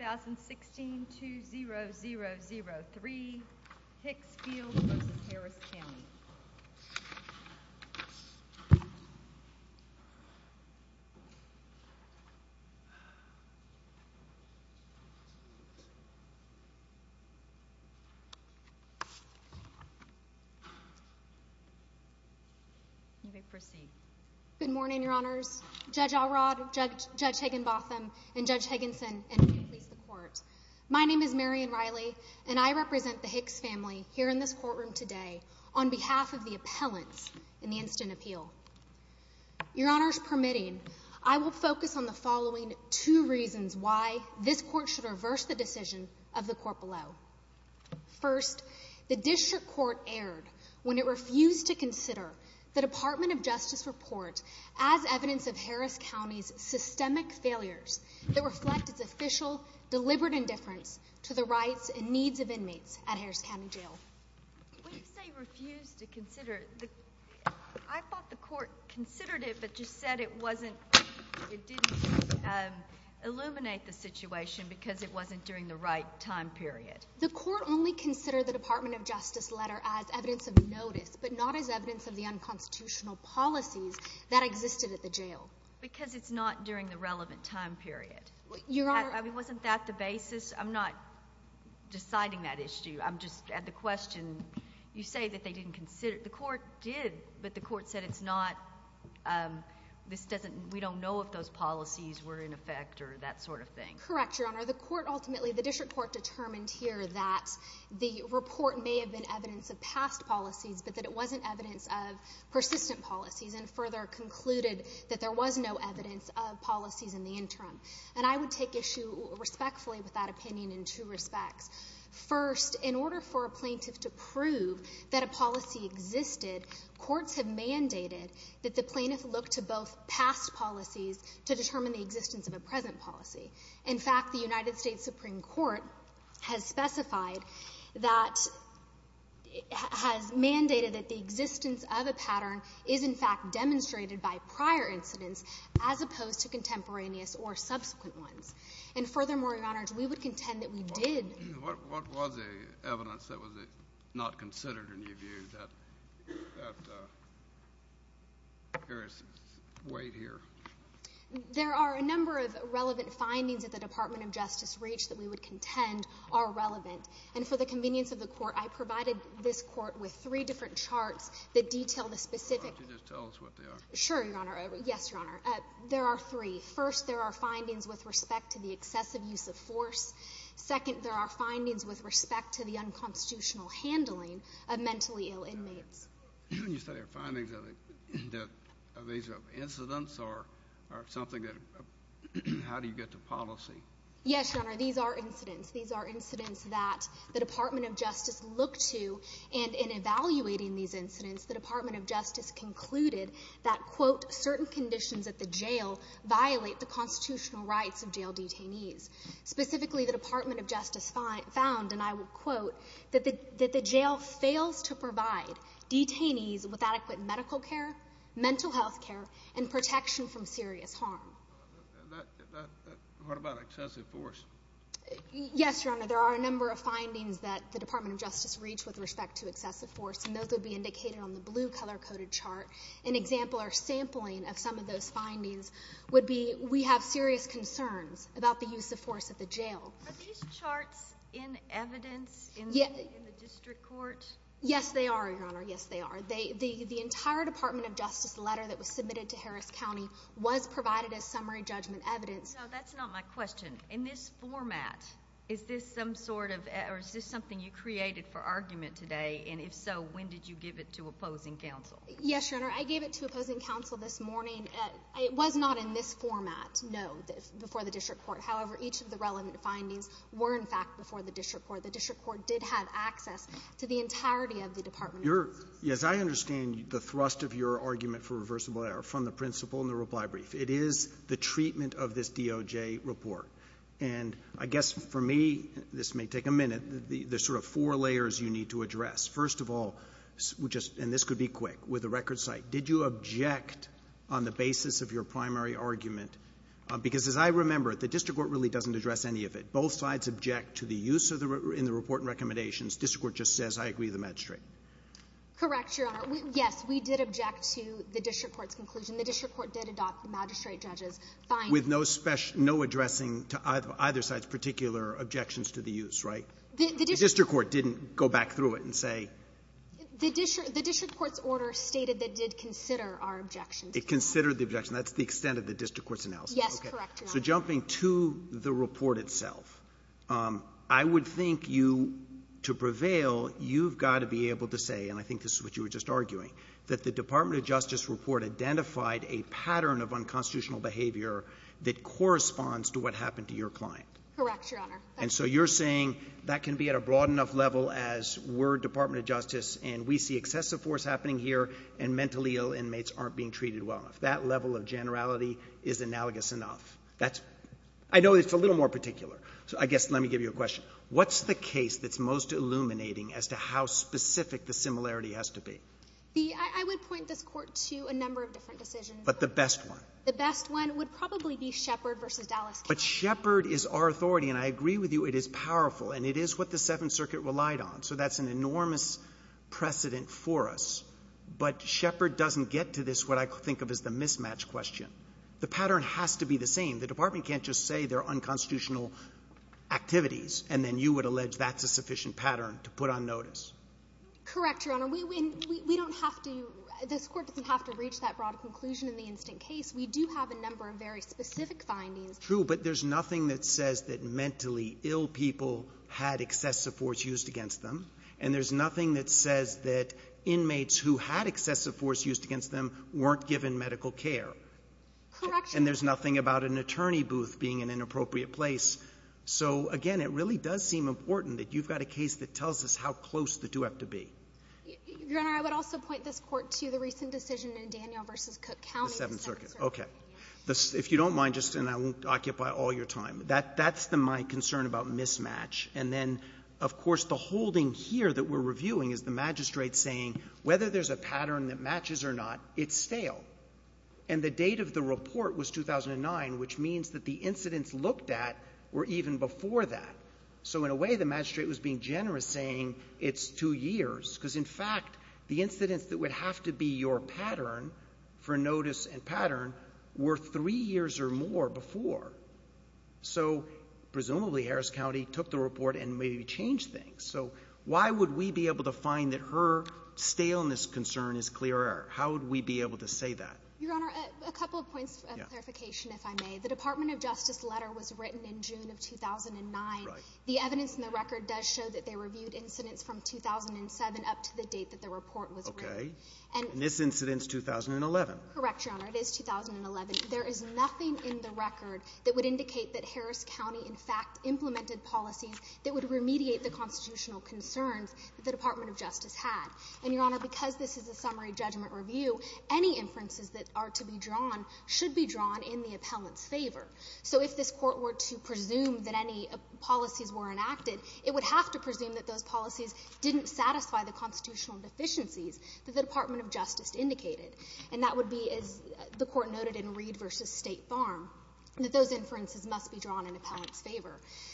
2016-2003 Hicks-Fields v. Harris County Good morning, Your Honors. Judge Alrod, Judge Higginbotham, and Judge Higginson, and I represent the Hicks family here in this courtroom today on behalf of the appellants in the instant appeal. Your Honors permitting, I will focus on the following two reasons why this Court should reverse the decision of the Court below. First, the District Court erred when it refused to consider the Department of Justice report as evidence of Harris County's systemic failures that reflect its official, deliberate indifference to the rights and needs of inmates at Harris County Jail. When you say refused to consider, I thought the Court considered it but just said it wasn't, it didn't illuminate the situation because it wasn't during the right time period. The Court only considered the Department of Justice letter as evidence of notice but not as evidence of the unconstitutional policies that existed at the jail. Because it's not during the relevant time period. Wasn't that the basis? I'm not deciding that issue, I'm just at the question. You say that they didn't consider, the Court did, but the Court said it's not, this doesn't, we don't know if those policies were in effect or that sort of thing. Correct, Your Honor. The Court ultimately, the District Court determined here that the report may have been evidence of past policies but that it wasn't evidence of persistent policies and further concluded that there was no evidence of them in the interim. And I would take issue respectfully with that opinion in two respects. First, in order for a plaintiff to prove that a policy existed, courts have mandated that the plaintiff look to both past policies to determine the existence of a present policy. In fact, the United States Supreme Court has specified that, has mandated that the existence of a pattern is in fact demonstrated by prior incidents as opposed to contemporaneous or subsequent ones. And furthermore, Your Honor, we would contend that we did. What was the evidence that was not considered in your view? That there is weight here. There are a number of relevant findings at the Department of Justice reach that we would contend are relevant. And for the convenience of the Court, I provided this Court with three different charts that detail the specific. Why don't you just tell us what they are? Sure, Your Honor. Yes, Your Honor. There are three. First, there are findings with respect to the excessive use of force. Second, there are findings with respect to the unconstitutional handling of mentally ill inmates. You said there are findings. Are these incidents or something that, how do you get to policy? Yes, Your Honor. These are incidents. These are incidents that the Department of Justice looked to. And in evaluating these incidents, the Department of Justice concluded that, quote, certain conditions at the jail violate the constitutional rights of jail detainees. Specifically, the Department of Justice found, and I will quote, that the jail fails to provide detainees with adequate medical care, mental health care, and protection from serious harm. What about excessive force? Yes, Your Honor. There are a number of findings that the Department of Justice reached with respect to excessive force, and those would be indicated on the blue color-coded chart. An example or sampling of some of those findings would be, we have serious concerns about the use of force at the jail. Are these charts in evidence in the district court? Yes, they are, Your Honor. Yes, they are. The entire Department of Justice letter that was submitted to Harris County was provided as summary judgment evidence. No, that's not my question. In this format, is this some sort of, or is this something you created for argument today? And if so, when did you give it to opposing counsel? Yes, Your Honor. I gave it to opposing counsel this morning. It was not in this format, no, before the district court. However, each of the relevant findings were, in fact, before the district court. The district court did have access to the entirety of the Department of Justice. As I understand the thrust of your argument for reversible error from the principle in the reply brief, it is the treatment of this DOJ report. And I guess for me, this may take a minute, there's sort of four layers you need to address. First of all, and this could be quick, with the record site, did you object on the basis of your primary argument? Because as I remember it, the district court really doesn't address any of it. If both sides object to the use in the report and recommendations, the district court just says, I agree with the magistrate. Correct, Your Honor. Yes, we did object to the district court's conclusion. The district court did adopt the magistrate judge's findings. With no addressing to either side's particular objections to the use, right? The district court didn't go back through it and say — The district court's order stated it did consider our objections. It considered the objection. That's the extent of the district court's analysis. Yes, correct, Your Honor. So jumping to the report itself, I would think you, to prevail, you've got to be able to say, and I think this is what you were just arguing, that the Department of Justice report identified a pattern of unconstitutional behavior that corresponds to what happened to your client. Correct, Your Honor. And so you're saying that can be at a broad enough level as we're Department of Justice and we see excessive force happening here and mentally ill inmates aren't being treated well enough. That level of generality is analogous enough. That's — I know it's a little more particular, so I guess let me give you a question. What's the case that's most illuminating as to how specific the similarity has to be? The — I would point this Court to a number of different decisions. But the best one? The best one would probably be Shepard v. Dallas County. But Shepard is our authority, and I agree with you, it is powerful, and it is what the Seventh Circuit relied on. So that's an enormous precedent for us. But Shepard doesn't get to this, what I think of as the mismatch question. The pattern has to be the same. The Department can't just say they're unconstitutional activities, and then you would allege that's a sufficient pattern to put on notice. Correct, Your Honor. We don't have to — this Court doesn't have to reach that broad conclusion in the instant case. We do have a number of very specific findings. True, but there's nothing that says that mentally ill people had excessive force used against them, and there's nothing that says that inmates who had excessive force used against them weren't given medical care. Correct. And there's nothing about an attorney booth being an inappropriate place. So, again, it really does seem important that you've got a case that tells us how close the two have to be. Your Honor, I would also point this Court to the recent decision in Daniel v. Cook County. The Seventh Circuit, okay. If you don't mind, and I won't occupy all your time, that's my concern about mismatch. And then, of course, the holding here that we're reviewing is the magistrate saying whether there's a pattern that matches or not, it's stale. And the date of the report was 2009, which means that the incidents looked at were even before that. So, in a way, the magistrate was being generous, saying it's two years. Because, in fact, the incidents that would have to be your pattern for notice and pattern were three years or more before. So, presumably, Harris County took the report and maybe changed things. So, why would we be able to find that her staleness concern is clear error? How would we be able to say that? Your Honor, a couple of points of clarification, if I may. The Department of Justice letter was written in June of 2009. The evidence in the record does show that they reviewed incidents from 2007 up to the date that the report was written. Okay. And this incident's 2011. Correct, Your Honor. It is 2011. There is nothing in the record that would indicate that Harris County, in fact, implemented policies that would remediate the constitutional concerns that the Department of Justice had. And, Your Honor, because this is a summary judgment review, any inferences that are to be drawn should be drawn in the appellant's favor. So if this Court were to presume that any policies were enacted, it would have to presume that those policies didn't satisfy the constitutional deficiencies that the Department of Justice indicated. And that would be, as the Court noted in Reed v. State Farm, that those inferences must be drawn in the appellant's favor.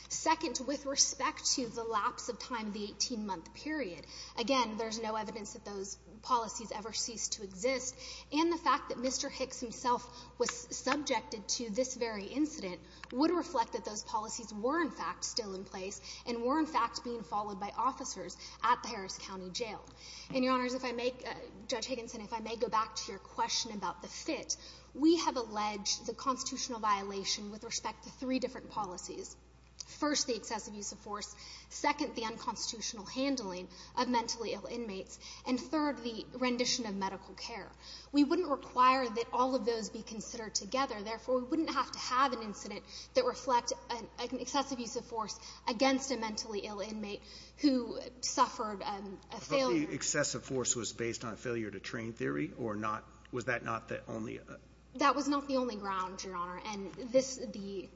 Second, with respect to the lapse of time in the 18-month period, again, there's no evidence that those policies ever ceased to exist. And the fact that Mr. Hicks himself was subjected to this very incident would reflect that those policies were, in fact, still in place and were, in fact, being followed by officers at the Harris County Jail. And, Your Honors, if I may, Judge Higginson, if I may go back to your question about the fit. We have alleged the constitutional violation with respect to three different policies. First, the excessive use of force. Second, the unconstitutional handling of mentally ill inmates. And third, the rendition of medical care. We wouldn't require that all of those be considered together. Therefore, we wouldn't have to have an incident that reflect an excessive use of force against a mentally ill inmate who suffered a failure to train theory or not. Was that not the only? That was not the only ground, Your Honor. And this, the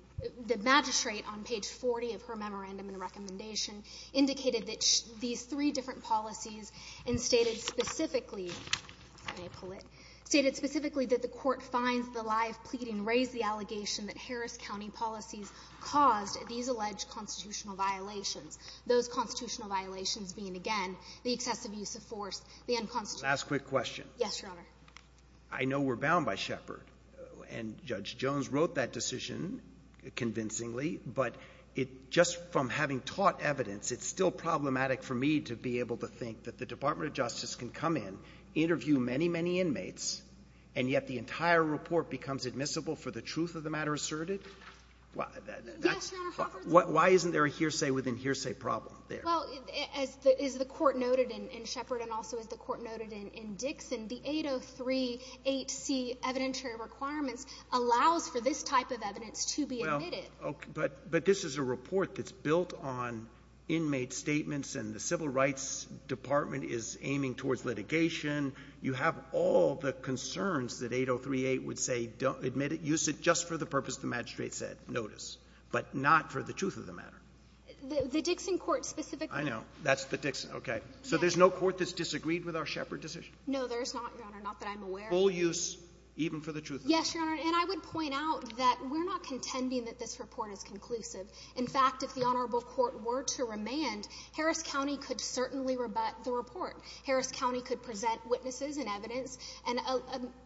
magistrate on page 40 of her memorandum and recommendation indicated that these three different policies and stated specifically, if I may pull it, stated specifically that the court finds the lie of pleading raised the allegation that Harris County policies caused these alleged constitutional violations. Those constitutional violations being, again, the excessive use of force, the unconstitutional Last quick question. Yes, Your Honor. I know we're bound by Shepard and Judge Jones wrote that decision convincingly, but it just from having taught evidence, it's still problematic for me to be able to think that the Department of Justice can come in, interview many, many inmates, and yet the entire report becomes admissible for the truth of the matter asserted. Why isn't there a hearsay within hearsay problem there? Well, as the court noted in Shepard and also as the court noted in Dixon, the 803.8c evidentiary requirements allows for this type of evidence to be admitted. Well, but this is a report that's built on inmate statements and the Civil Rights Department is aiming towards litigation. You have all the concerns that 803.8 would say don't admit it. Use it just for the purpose the magistrate said. Notice. But not for the truth of the matter. The Dixon court specifically. I know. That's the Dixon. Okay. So there's no court that's disagreed with our Shepard decision? No, there's not, Your Honor. Not that I'm aware of. Full use, even for the truth of the matter. Yes, Your Honor. And I would point out that we're not contending that this report is conclusive. In fact, if the honorable court were to remand, Harris County could certainly rebut the report. Harris County could present witnesses and evidence and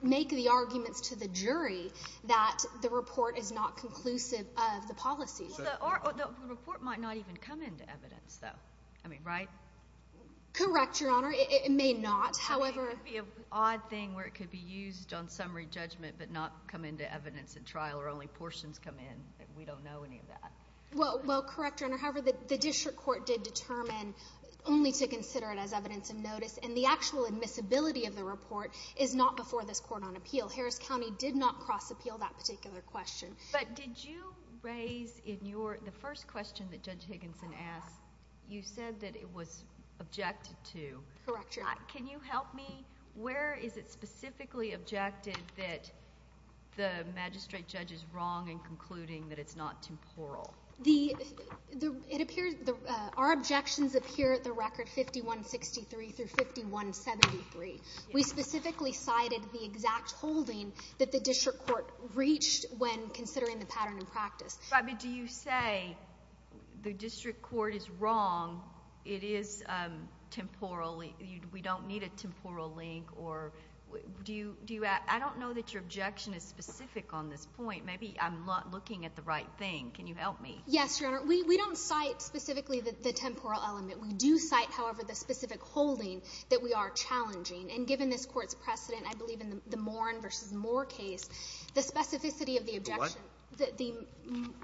make the arguments to the jury that the report is not conclusive of the policies. Well, the report might not even come into evidence, though. I mean, right? Correct, Your Honor. It may not. It would be an odd thing where it could be used on summary judgment, but not come into evidence at trial, or only portions come in. We don't know any of that. Well, correct, Your Honor. However, the Dixon court did determine only to consider it as evidence of notice, and the actual admissibility of the report is not before this court on appeal. Harris County did not cross-appeal that particular question. But did you raise in the first question that Judge Higginson asked, you said that it was objected to. Correct, Your Honor. Can you help me? Where is it specifically objected that the magistrate judge is wrong in concluding that it's not temporal? Our objections appear at the record 5163 through 5173. We specifically cited the exact holding that the district court reached when considering the pattern in practice. I mean, do you say the district court is wrong, it is temporal? We don't need a temporal link? I don't know that your objection is specific on this point. Maybe I'm not looking at the right thing. Can you help me? Yes, Your Honor. We don't cite specifically the temporal element. We do cite, however, the specific holding that we are challenging. And given this court's precedent, I believe in the Morin v. Moore case, the specificity of the objection that the... And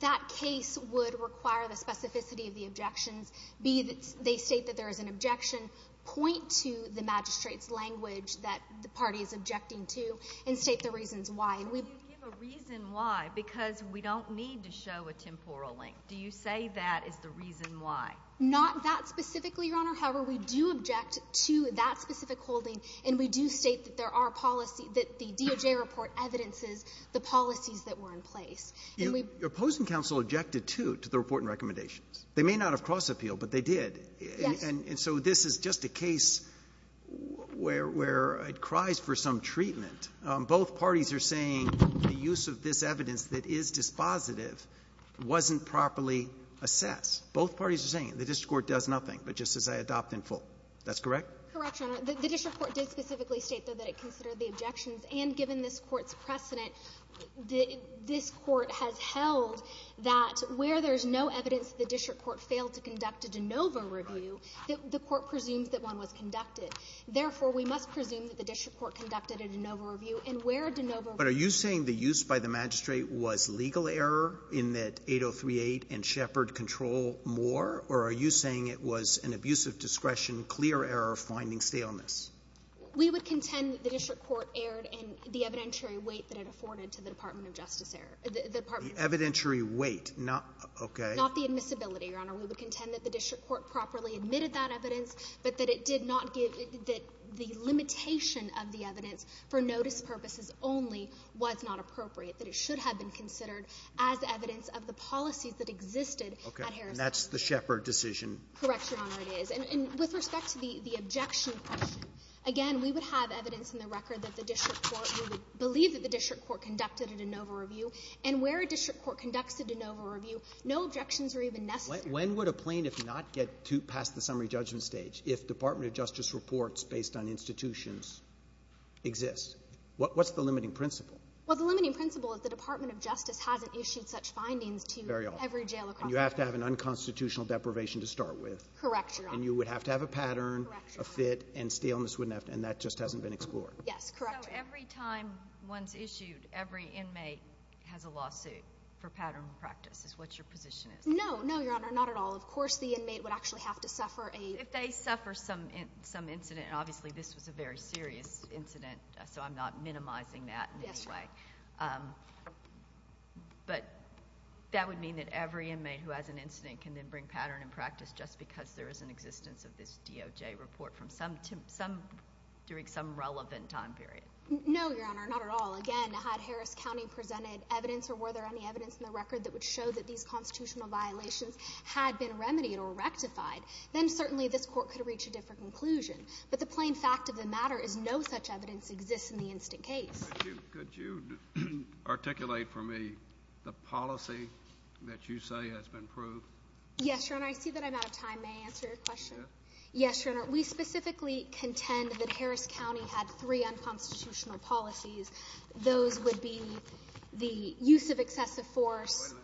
that case would require the specificity of the objections, be that they state that there is an objection, point to the magistrate's language that the party is objecting to, and state the reasons why. So you give a reason why because we don't need to show a temporal link. Do you say that is the reason why? Not that specifically, Your Honor. However, we do object to that specific holding, and we do state that there are policy... the policies that were in place. Your opposing counsel objected, too, to the report and recommendations. They may not have cross-appealed, but they did. Yes. And so this is just a case where it cries for some treatment. Both parties are saying the use of this evidence that is dispositive wasn't properly assessed. Both parties are saying the district court does nothing, but just says, I adopt in full. That's correct? Correct, Your Honor. The district court did specifically state, though, that it considered the objections. And given this Court's precedent, this Court has held that where there's no evidence that the district court failed to conduct a de novo review, that the Court presumes that one was conducted. Therefore, we must presume that the district court conducted a de novo review, and where a de novo review... But are you saying the use by the magistrate was legal error in that 8038 and Shepherd control more, or are you saying it was an abusive discretion, clear error, finding staleness? We would contend that the district court erred in the evidentiary weight that it afforded to the Department of Justice error. The Department of Justice... The evidentiary weight, not... Okay. Not the admissibility, Your Honor. We would contend that the district court properly admitted that evidence, but that it did not give that the limitation of the evidence for notice purposes only was not appropriate, that it should have been considered as evidence of the policies that existed at Harrison. And that's the Shepherd decision? Correct, Your Honor, it is. With respect to the objection question, again, we would have evidence in the record that the district court, we would believe that the district court conducted a de novo review, and where a district court conducts a de novo review, no objections are even necessary. When would a plaintiff not get past the summary judgment stage if Department of Justice reports based on institutions exist? What's the limiting principle? Well, the limiting principle is the Department of Justice hasn't issued such findings to every jail across the country. You have to have an unconstitutional deprivation to start with. Correct, Your Honor. And you would have to have a pattern, a fit, and staleness wouldn't have to, and that just hasn't been explored. Yes, correct. So every time one's issued, every inmate has a lawsuit for pattern and practice is what your position is? No, no, Your Honor, not at all. Of course the inmate would actually have to suffer a... If they suffer some incident, and obviously this was a very serious incident, so I'm not minimizing that in any way. But that would mean that every inmate who has an incident can then bring pattern and this DOJ report during some relevant time period. No, Your Honor, not at all. Again, had Harris County presented evidence or were there any evidence in the record that would show that these constitutional violations had been remedied or rectified, then certainly this court could reach a different conclusion. But the plain fact of the matter is no such evidence exists in the instant case. Could you articulate for me the policy that you say has been proved? Yes, Your Honor. I see that I'm out of time. May I answer your question? Yes. Yes, Your Honor. We specifically contend that Harris County had three unconstitutional policies. Those would be the use of excessive force...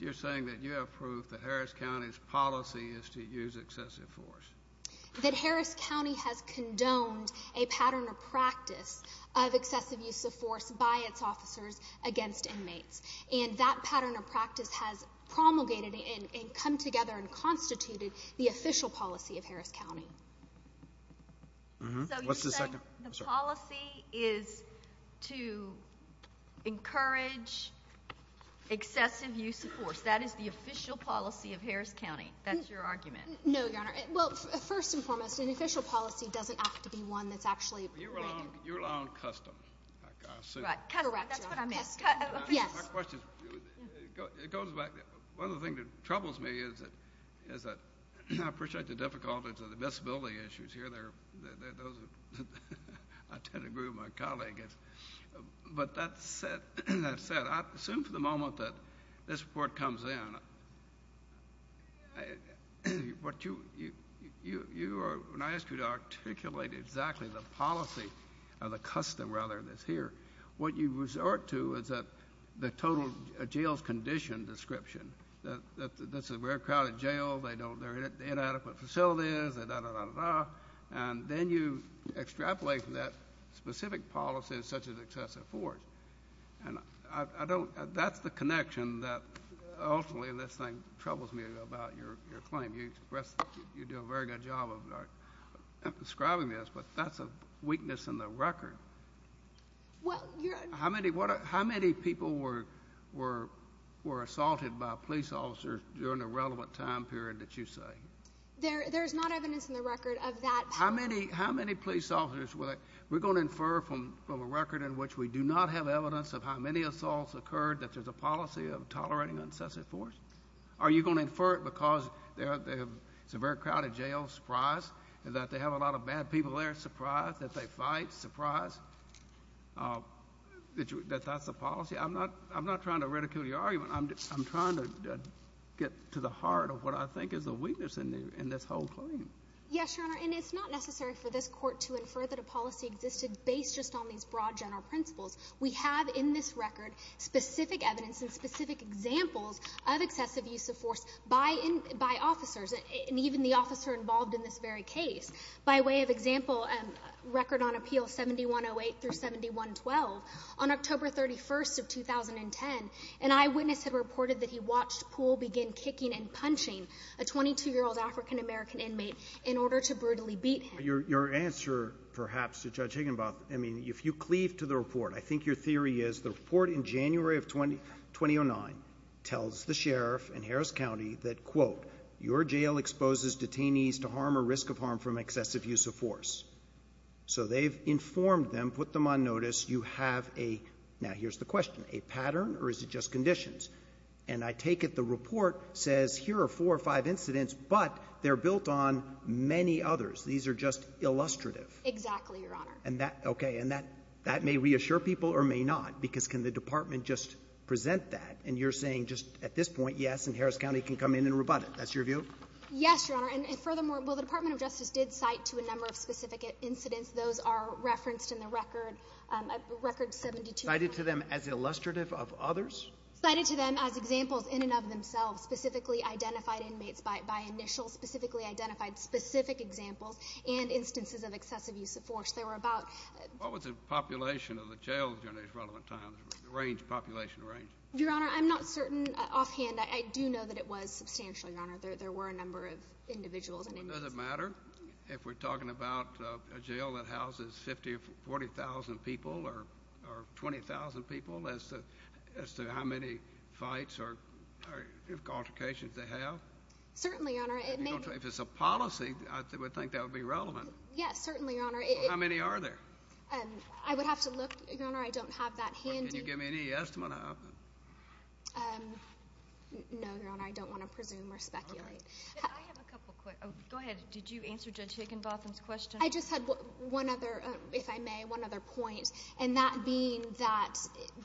You're saying that you have proof that Harris County's policy is to use excessive force? That Harris County has condoned a pattern of practice of excessive use of force by its officers against inmates. That pattern of practice has promulgated and come together and constituted the official policy of Harris County. What's the second? The policy is to encourage excessive use of force. That is the official policy of Harris County. That's your argument. No, Your Honor. Well, first and foremost, an official policy doesn't have to be one that's actually... You're allowing custom. Correct, Your Honor. That's what I missed. Yes. It goes back... One of the things that troubles me is that I appreciate the difficulties of the disability issues here. I tend to agree with my colleague. But that said, I assume for the moment that this report comes in, when I ask you to articulate exactly the policy or the custom rather that's here, what you resort to is that the total jail's condition description. That this is a very crowded jail. They don't... They're inadequate facilities. And then you extrapolate from that specific policies such as excessive force. And I don't... That's the connection that ultimately this thing troubles me about your claim. You do a very good job of describing this, but that's a weakness in the record. Well, Your Honor... How many people were assaulted by police officers during the relevant time period that you say? There's not evidence in the record of that. How many police officers were... We're going to infer from a record in which we do not have evidence of how many assaults occurred that there's a policy of tolerating excessive force? Are you going to infer it because it's a very crowded jail, surprise, and that they have a lot of bad people there, surprise, that they fight, surprise? Uh, that you... That that's a policy? I'm not... I'm not trying to ridicule your argument. I'm trying to get to the heart of what I think is a weakness in this whole claim. Yes, Your Honor, and it's not necessary for this court to infer that a policy existed based just on these broad general principles. We have in this record specific evidence and specific examples of excessive use of force by officers and even the officer involved in this very case. By way of example, record on appeal 7108 through 7112, on October 31st of 2010, an eyewitness had reported that he watched Poole begin kicking and punching a 22-year-old African-American inmate in order to brutally beat him. Your answer, perhaps, to Judge Higginbotham, I mean, if you cleave to the report, I think your theory is the report in January of 2009 tells the sheriff in Harris County that, quote, your jail exposes detainees to harm or risk of harm from excessive use of force. So they've informed them, put them on notice, you have a... Now, here's the question, a pattern or is it just conditions? And I take it the report says here are four or five incidents, but they're built on many others. These are just illustrative. Exactly, Your Honor. And that... Okay, and that may reassure people or may not, because can the department just present that? And you're saying just at this point, yes, and Harris County can come in and rebut it. That's your view? Yes, Your Honor. And furthermore, well, the Department of Justice did cite to a number of specific incidents. Those are referenced in the record, record 72... Cited to them as illustrative of others? Cited to them as examples in and of themselves, specifically identified inmates by initial, specifically identified specific examples and instances of excessive use of force. They were about... What was the population of the jails during these relevant times? Range, population, range. Your Honor, I'm not certain offhand. I do know that it was substantial, Your Honor. There were a number of individuals and... Does it matter if we're talking about a jail that houses 50 or 40,000 people or 20,000 people as to how many fights or altercations they have? Certainly, Your Honor. If it's a policy, I would think that would be relevant. Yes, certainly, Your Honor. How many are there? I would have to look, Your Honor. I don't have that handy. Can you give me any estimate of it? No, Your Honor. I don't want to presume or speculate. Okay. I have a couple quick... Go ahead. Did you answer Judge Higginbotham's question? I just had one other, if I may, one other point, and that being that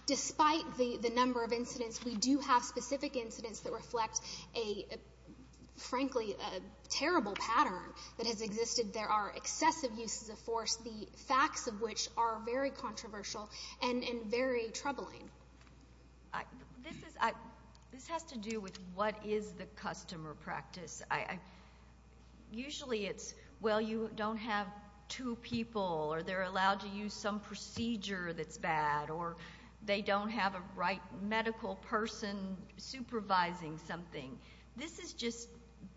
despite the number of incidents, we do have specific incidents that reflect a, frankly, a terrible pattern that has existed. There are excessive uses of force, the facts of which are very controversial and very troubling. This has to do with what is the customer practice. Usually, it's, well, you don't have two people, or they're allowed to use some procedure that's bad, or they don't have a right medical person supervising something. This is just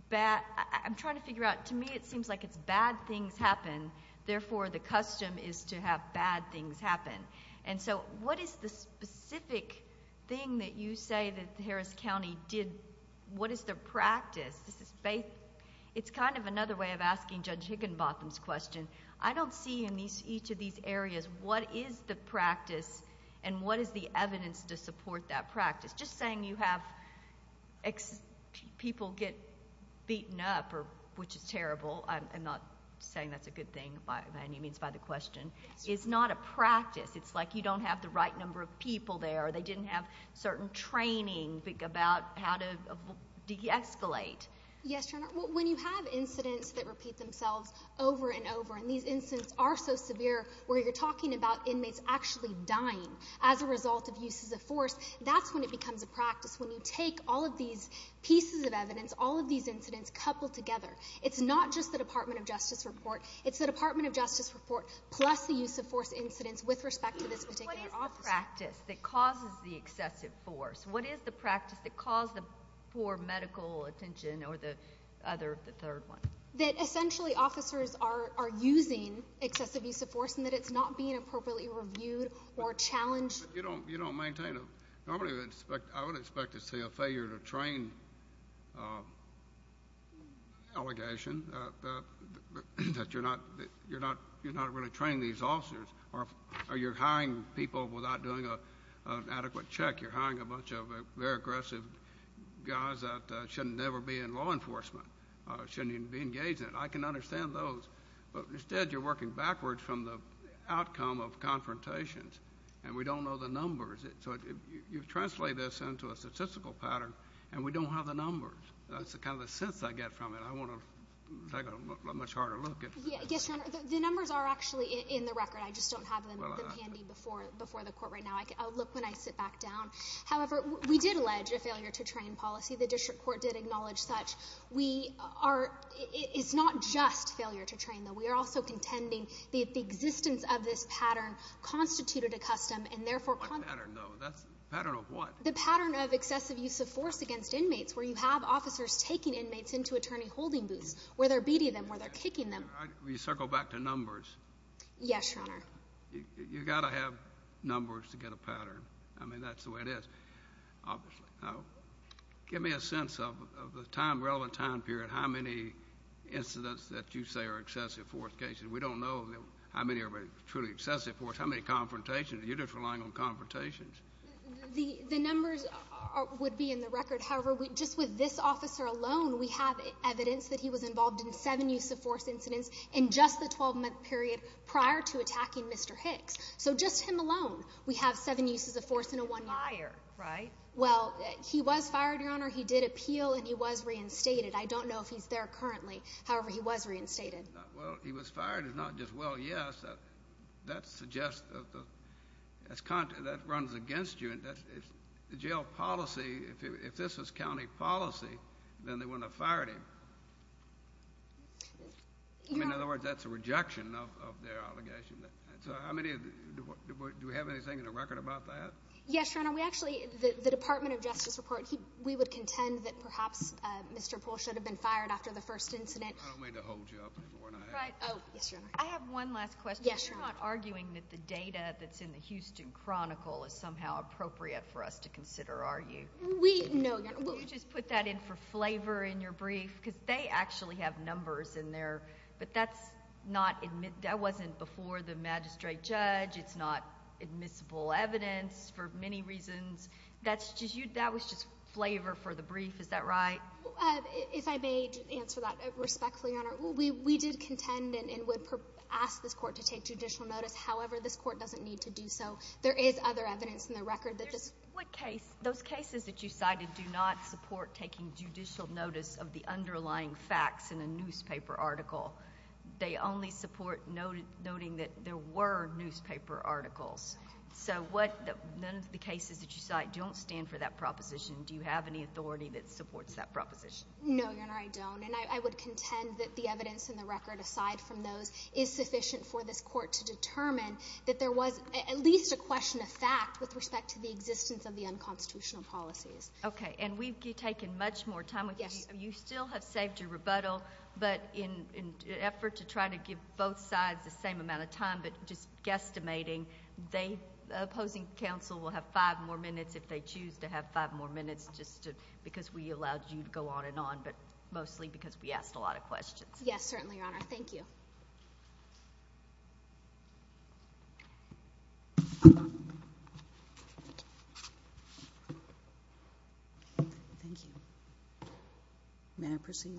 bad. I'm trying to figure out. To me, it seems like it's bad things happen. Therefore, the custom is to have bad things happen. What is the specific thing that you say that Harris County did? What is their practice? It's kind of another way of asking Judge Higginbotham's question. I don't see in each of these areas what is the practice and what is the evidence to support that practice. Just saying you have people get beaten up, which is terrible. I'm not saying that's a good thing by any means by the question. It's not a practice. You don't have the right number of people there. They didn't have certain training about how to de-escalate. Yes, Your Honor. When you have incidents that repeat themselves over and over, and these incidents are so severe where you're talking about inmates actually dying as a result of uses of force, that's when it becomes a practice. When you take all of these pieces of evidence, all of these incidents coupled together. It's not just the Department of Justice report. It's the Department of Justice report plus the use of force incidents with respect to this particular officer. What is the practice that causes the excessive force? What is the practice that caused the poor medical attention or the other, the third one? That essentially officers are using excessive use of force and that it's not being appropriately reviewed or challenged. I would expect to see a failure to train a allegation that you're not really training these officers or you're hiring people without doing an adequate check. You're hiring a bunch of very aggressive guys that should never be in law enforcement or shouldn't even be engaged in it. I can understand those, but instead you're working backwards from the outcome of confrontations and we don't know the numbers. You've translated this into a statistical pattern and we don't have the numbers. That's kind of the sense I get from it. I want to take a much harder look at it. Yes, Your Honor. The numbers are actually in the record. I just don't have them handy before the court right now. I'll look when I sit back down. However, we did allege a failure to train policy. The district court did acknowledge such. It's not just failure to train, though. We are also contending that the existence of this pattern constituted a custom and therefore pattern of what? The pattern of excessive use of force against inmates where you have officers taking inmates into attorney holding booths, where they're beating them, where they're kicking them. We circle back to numbers. Yes, Your Honor. You got to have numbers to get a pattern. I mean, that's the way it is, obviously. Give me a sense of the time, relevant time period, how many incidents that you say are excessive force cases. We don't know how many are truly excessive force, how many confrontations. You're just relying on confrontations. The numbers would be in the record. However, just with this officer alone, we have evidence that he was involved in seven use of force incidents in just the 12-month period prior to attacking Mr. Hicks. So just him alone, we have seven uses of force in a one year. He was fired, right? Well, he was fired, Your Honor. He did appeal and he was reinstated. I don't know if he's there currently. However, he was reinstated. Well, he was fired is not just, well, yes. That suggests that that runs against you. And if the jail policy, if this was county policy, then they wouldn't have fired him. In other words, that's a rejection of their allegation. So how many, do we have anything in the record about that? Yes, Your Honor. We actually, the Department of Justice report, we would contend that perhaps Mr. Poole should have been fired after the first incident. I don't mean to hold you up anymore, but I have one. I have one last question. You're not arguing that the data that's in the Houston Chronicle is somehow appropriate for us to consider, are you? We, no, Your Honor. Will you just put that in for flavor in your brief? Because they actually have numbers in there, but that's not, that wasn't before the magistrate judge. It's not admissible evidence for many reasons. That's just, that was just flavor for the brief. Is that right? If I may answer that respectfully, Your Honor, we did contend and would ask this court to take judicial notice. However, this court doesn't need to do so. There is other evidence in the record that does. What case, those cases that you cited do not support taking judicial notice of the underlying facts in a newspaper article. They only support noting that there were newspaper articles. So what, none of the cases that you cite don't stand for that proposition. Do you have any authority that supports that proposition? No, Your Honor, I don't. And I would contend that the evidence in the record, aside from those, is sufficient for this court to determine that there was at least a question of fact with respect to the existence of the unconstitutional policies. Okay. And we've taken much more time with you. You still have saved your rebuttal, but in an effort to try to give both sides the same amount of time, but just guesstimating, the opposing counsel will have five more minutes if they choose to have five more minutes, just because we allowed you to go on and on, but mostly because we asked a lot of questions. Yes, certainly, Your Honor. Thank you. Thank you. May I proceed?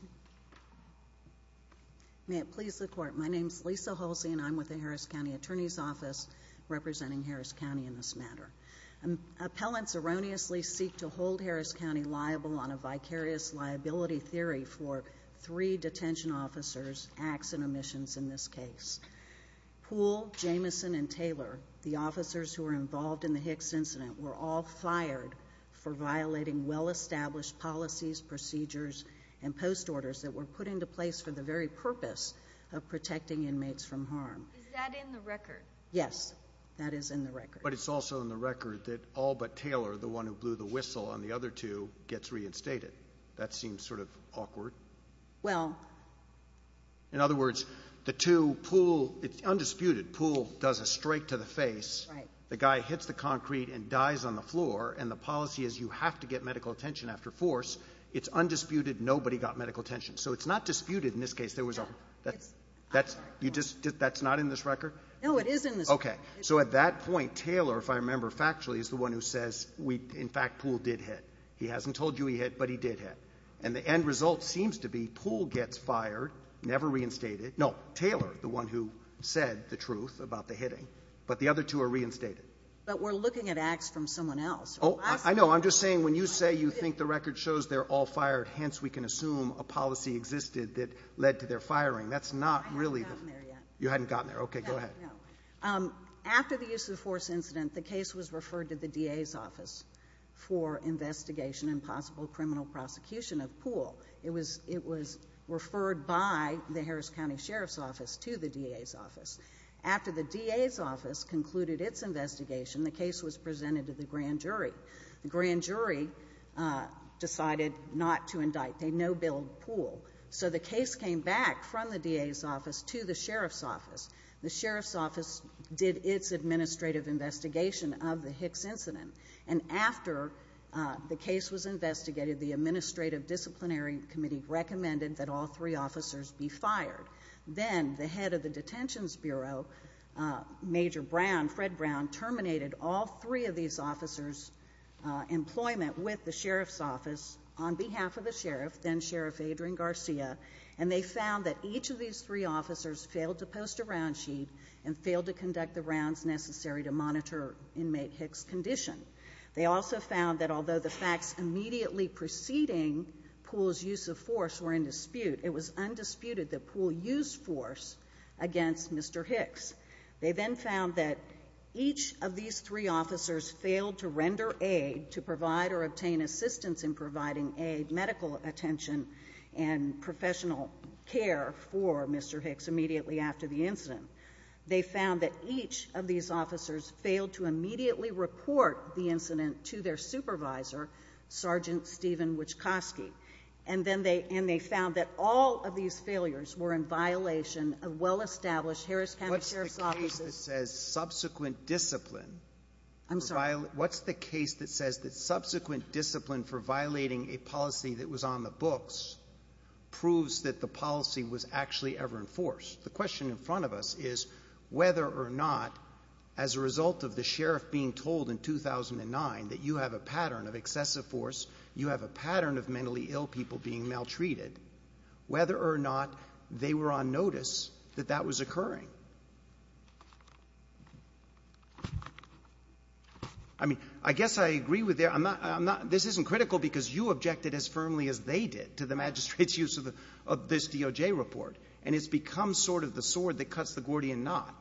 May it please the court. My name is Lisa Halsey, and I'm with the Harris County Attorney's Office representing Harris County in this matter. Appellants erroneously seek to hold Harris County liable on a vicarious liability theory for three detention officers' acts and omissions in this case. Poole, Jamison, and Taylor, the officers who were involved in the Hicks incident, were all fired for violating well-established policies, procedures, and post orders that were put into place for the very purpose of protecting inmates from harm. Is that in the record? Yes, that is in the record. But it's also in the record that all but Taylor, the one who blew the whistle on the other two, gets reinstated. That seems sort of awkward. Well... In other words, the two, Poole, it's undisputed, Poole does a strike to the face. Right. The guy hits the concrete and dies on the floor, and the policy is you have to get medical attention after force. It's undisputed. Nobody got medical attention. So it's not disputed in this case. There was a... You just... That's not in this record? No, it is in this record. Okay. So at that point, Taylor, if I remember factually, is the one who says, in fact, Poole did hit. He hasn't told you he hit, but he did hit. And the end result seems to be Poole gets fired, never reinstated. No, Taylor, the one who said the truth about the hitting. But the other two are reinstated. But we're looking at acts from someone else. Oh, I know. I'm just saying when you say you think the record shows they're all fired, hence we can assume a policy existed that led to their firing. That's not really... I haven't gotten there yet. You haven't gotten there. Okay, go ahead. No, after the use of force incident, the case was referred to the DA's office for investigation and possible criminal prosecution of Poole. It was referred by the Harris County Sheriff's Office to the DA's office. After the DA's office concluded its investigation, the case was presented to the grand jury. The grand jury decided not to indict. They no-billed Poole. So the case came back from the DA's office to the Sheriff's office. The Sheriff's office did its administrative investigation of the Hicks incident. And after the case was investigated, the administrative disciplinary committee recommended that all three officers be fired. Then the head of the Detentions Bureau, Major Brown, Fred Brown, terminated all three of these officers' employment with the Sheriff's office on behalf of the Sheriff, then Sheriff Adrian Garcia. And they found that each of these three officers failed to post a round sheet and failed to conduct the rounds necessary to monitor inmate Hicks' condition. They also found that although the facts immediately preceding Poole's use of force were in dispute, it was undisputed that Poole used force against Mr. Hicks. They then found that each of these three officers failed to render aid to provide or obtain assistance in providing aid, medical attention, and professional care for Mr. Hicks immediately after the incident. They found that each of these officers failed to immediately report the incident to their supervisor, Sergeant Steven Wichkoski. And then they found that all of these failures were in violation of well-established Harris County Sheriff's offices. What's the case that says subsequent discipline for violating a policy that was on the books proves that the policy was actually ever enforced? The question in front of us is whether or not, as a result of the Sheriff being told in 2009 that you have a pattern of excessive force, you have a pattern of mentally ill people being maltreated, whether or not they were on notice that that was occurring. I mean, I guess I agree with their — I'm not — this isn't critical because you objected as firmly as they did to the magistrate's use of this DOJ report, and it's become sort of the sword that cuts the Gordian knot,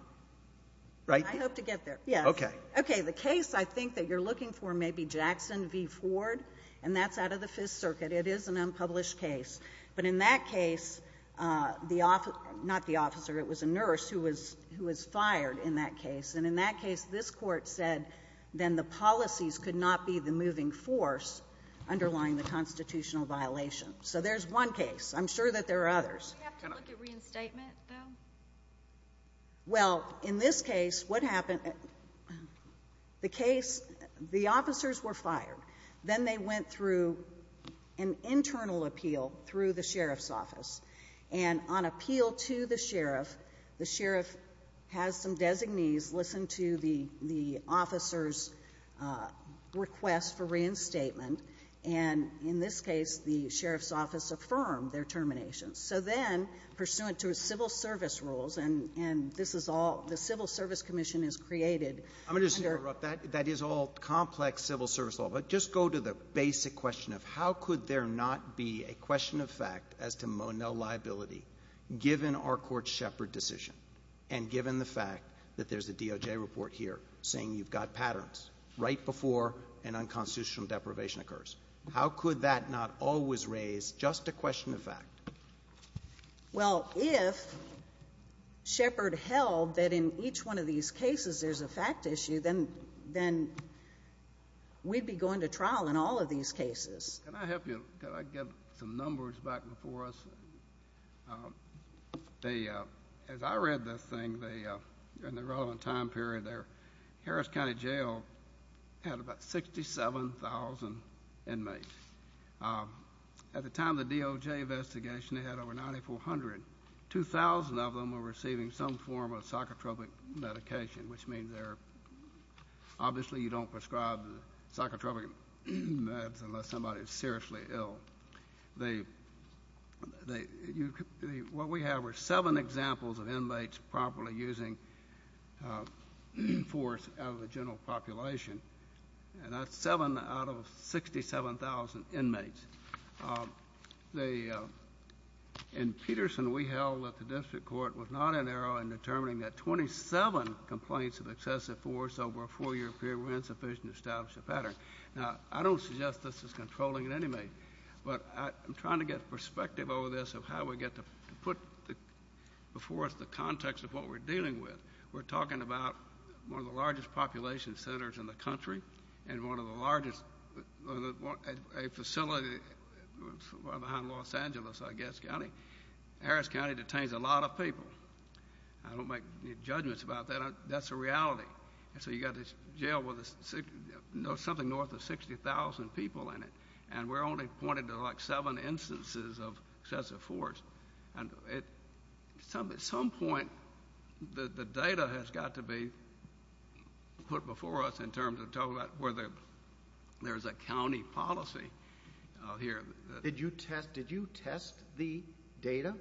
right? I hope to get there. Yes. Okay. Okay. The case I think that you're looking for may be Jackson v. Ford, and that's out of the Fifth Circuit. It is an unpublished case. But in that case, the — not the officer, it was a nurse who was — who was fired in that case. And in that case, this Court said then the policies could not be the moving force underlying the constitutional violation. So there's one case. I'm sure that there are others. Do we have to look at reinstatement, though? Well, in this case, what happened — the case — the officers were fired. Then they went through an internal appeal through the sheriff's office. And on appeal to the sheriff, the sheriff has some designees listen to the — the officers' request for reinstatement. And in this case, the sheriff's office affirmed their termination. So then, pursuant to civil service rules, and this is all — the Civil Service Commission has created under — Well, just go to the basic question of how could there not be a question of fact as to Monell liability, given our Court's Shepard decision, and given the fact that there's a DOJ report here saying you've got patterns right before an unconstitutional deprivation occurs? How could that not always raise just a question of fact? Well, if Shepard held that in each one of these cases there's a fact issue, then — then we'd be going to trial in all of these cases. Can I help you? Could I get some numbers back before us? They — as I read this thing, they — in the relevant time period there, Harris County Jail had about 67,000 inmates. At the time of the DOJ investigation, they had over 9,400. Two thousand of them were receiving some form of psychotropic medication, which means they're — obviously, you don't prescribe psychotropic meds unless somebody is seriously ill. They — what we have are seven examples of inmates properly using force out of the general population, and that's seven out of 67,000 inmates. In Peterson, we held that the district court was not in error in determining that 27 complaints of excessive force over a four-year period were insufficient to establish a pattern. Now, I don't suggest this is controlling in any way, but I'm trying to get perspective over this of how we get to put before us the context of what we're dealing with. We're talking about one of the largest population centers in the country and one of the largest — a facility that's right behind Los Angeles, I guess, County. Harris County detains a lot of people. I don't make any judgments about that. That's a reality. And so, you've got this jail with something north of 60,000 people in it, and we're only pointing to like seven instances of excessive force. And at some point, the data has got to be put before us in terms of talking about whether there's a county policy here. Did you test the data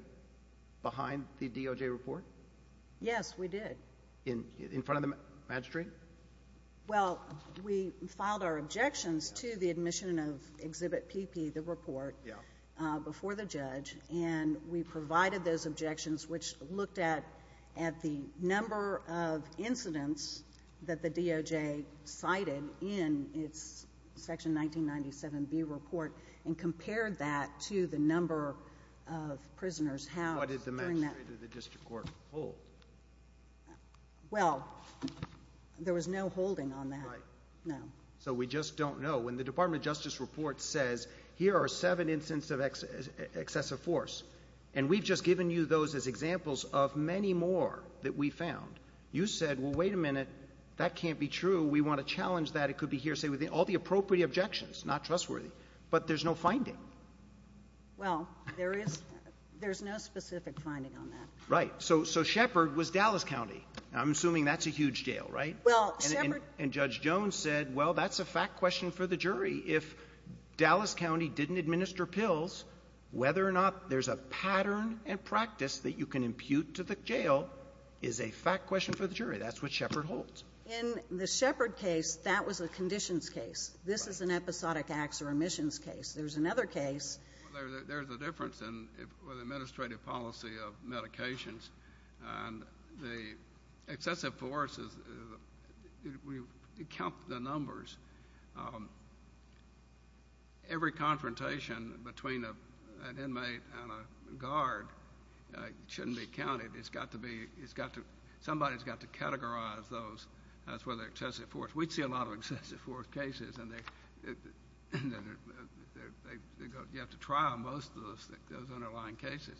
behind the DOJ report? Yes, we did. In front of the magistrate? Well, we filed our objections to the admission of Exhibit PP, the report, before the judge, and we provided those objections, which looked at the number of incidents that the DOJ cited in its Section 1997B report and compared that to the number of prisoners held during that— Well, there was no holding on that. Right. No. So, we just don't know. When the Department of Justice report says, here are seven instances of excessive force, and we've just given you those as examples of many more that we found, you said, well, wait a minute, that can't be true. We want to challenge that. It could be here, say, with all the appropriate objections, not trustworthy. But there's no finding. Well, there is—there's no specific finding on that. Right. Right. So, Shepherd was Dallas County. Now, I'm assuming that's a huge jail, right? Well, Shepherd— And Judge Jones said, well, that's a fact question for the jury. If Dallas County didn't administer pills, whether or not there's a pattern and practice that you can impute to the jail is a fact question for the jury. That's what Shepherd holds. In the Shepherd case, that was a conditions case. This is an episodic acts or omissions case. There's another case— Well, there's a difference in the administrative policy of medications, and the excessive force is—we count the numbers. Every confrontation between an inmate and a guard shouldn't be counted. It's got to be—it's got to—somebody's got to categorize those as whether excessive force. We'd see a lot of excessive force cases, and they—you have to trial most of those underlying cases.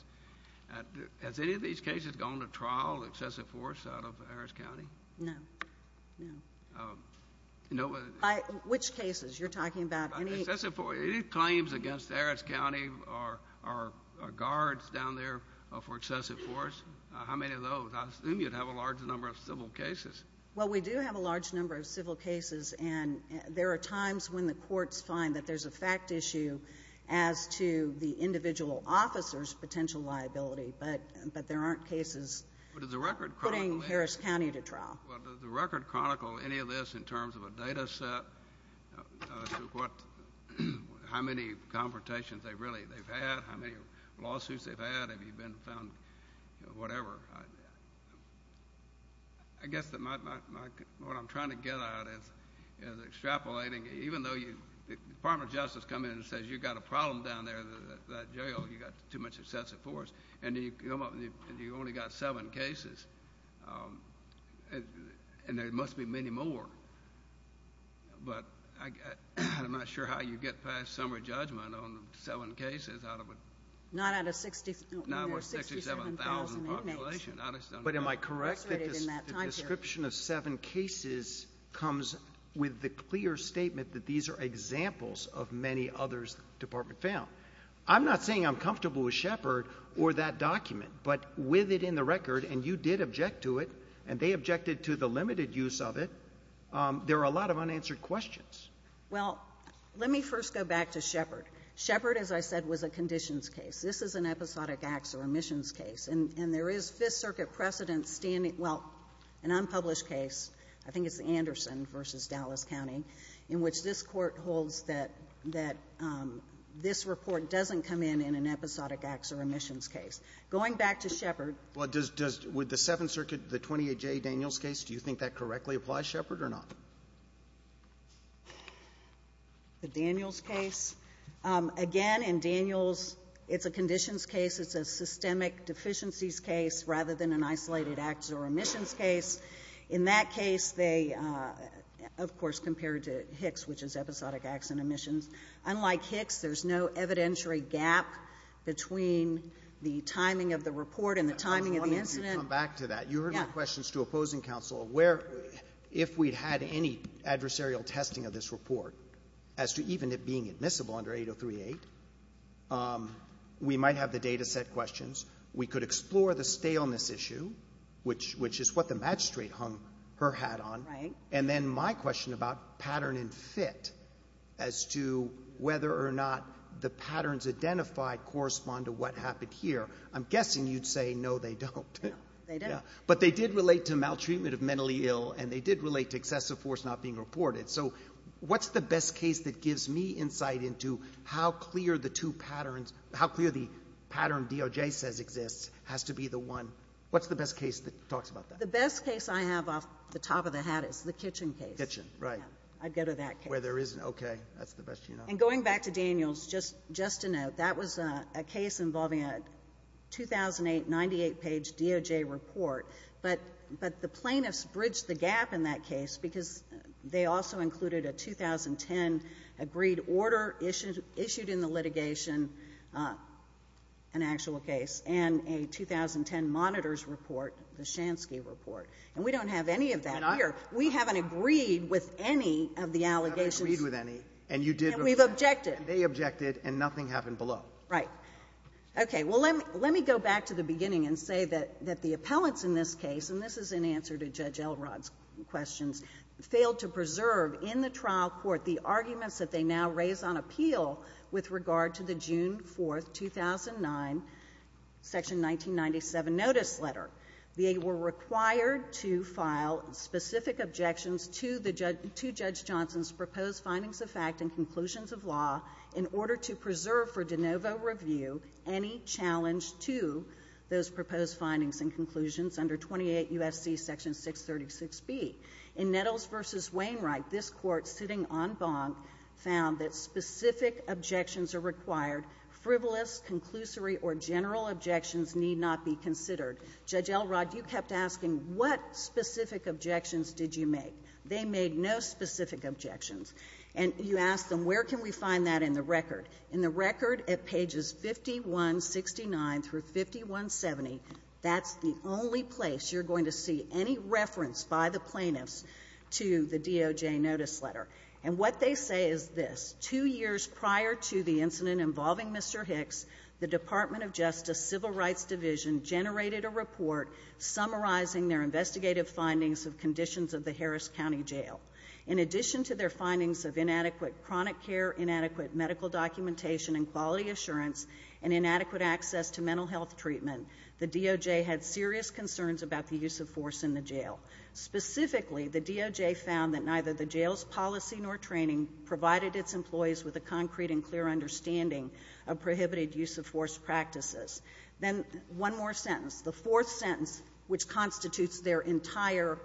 Has any of these cases gone to trial, excessive force, out of Harris County? No. No. No? By which cases? You're talking about— Any claims against Harris County or guards down there for excessive force, how many of those? I assume you'd have a large number of civil cases. Well, we do have a large number of civil cases, and there are times when the courts find that there's a fact issue as to the individual officer's potential liability, but there aren't cases— But does the record chronicle any— —putting Harris County to trial? Well, does the record chronicle any of this in terms of a data set, to what—how many confrontations they've really—they've had, how many lawsuits they've had, if you've been found—whatever? I guess that my—what I'm trying to get at is extrapolating. Even though you—the Department of Justice comes in and says, you've got a problem down there, that jail, you've got too much excessive force, and you only got seven cases, and there must be many more, but I'm not sure how you get past summary judgment on seven cases out of a— Not out of sixty— But am I correct that the description of seven cases comes with the clear statement that these are examples of many others the Department found? I'm not saying I'm comfortable with Shepard or that document, but with it in the record, and you did object to it, and they objected to the limited use of it, there are a lot of unanswered questions. Well, let me first go back to Shepard. Shepard, as I said, was a conditions case. This is an episodic acts or omissions case, and there is Fifth Circuit precedent standing—well, an unpublished case, I think it's Anderson v. Dallas County, in which this Court holds that this report doesn't come in in an episodic acts or omissions Going back to Shepard— Well, does—with the Seventh Circuit, the 28J Daniels case, do you think that correctly applies, Shepard, or not? The Daniels case? Again, in Daniels, it's a conditions case. It's a systemic deficiencies case rather than an isolated acts or omissions case. In that case, they, of course, compared to Hicks, which is episodic acts and omissions. Unlike Hicks, there's no evidentiary gap between the timing of the report and the timing of the incident. I wanted you to come back to that. Yeah. My question is to opposing counsel, if we'd had any adversarial testing of this report as to even it being admissible under 8038, we might have the data set questions. We could explore the staleness issue, which is what the magistrate hung her hat on, and then my question about pattern and fit as to whether or not the patterns identified correspond to what happened here. I'm guessing you'd say, no, they don't. No, they don't. But they did relate to maltreatment of mentally ill, and they did relate to excessive force not being reported. So what's the best case that gives me insight into how clear the two patterns, how clear the pattern DOJ says exists has to be the one? What's the best case that talks about that? The best case I have off the top of the hat is the Kitchen case. Kitchen, right. I'd go to that case. Where there isn't, okay. That's the best you know. And going back to Daniel's, just to note, that was a case involving a 2008, 98-page DOJ report, but the plaintiffs bridged the gap in that case because they also included a 2010 agreed order issued in the litigation, an actual case, and a 2010 monitors report, the Shansky report, and we don't have any of that here. You didn't agree with any, and you did. And we've objected. They objected, and nothing happened below. Right. Okay. Well, let me go back to the beginning and say that the appellants in this case, and this is in answer to Judge Elrod's questions, failed to preserve in the trial court the arguments that they now raise on appeal with regard to the June 4, 2009, Section 1997 notice letter. They were required to file specific objections to Judge Johnson's proposed findings of fact and conclusions of law in order to preserve for de novo review any challenge to those proposed findings and conclusions under 28 U.S.C. Section 636B. In Nettles v. Wainwright, this Court, sitting en banc, found that specific objections are required. Frivolous, conclusory, or general objections need not be considered. Judge Elrod, you kept asking, what specific objections did you make? They made no specific objections. And you asked them, where can we find that in the record? In the record at pages 5169 through 5170, that's the only place you're going to see any reference by the plaintiffs to the DOJ notice letter. And what they say is this. Two years prior to the incident involving Mr. Hicks, the Department of Justice Civil Affairs filed their report summarizing their investigative findings of conditions of the Harris County Jail. In addition to their findings of inadequate chronic care, inadequate medical documentation and quality assurance, and inadequate access to mental health treatment, the DOJ had serious concerns about the use of force in the jail. Specifically, the DOJ found that neither the jail's policy nor training provided its employees with a concrete and clear understanding of prohibited use of force practices. Then one more sentence, the fourth sentence, which constitutes their entire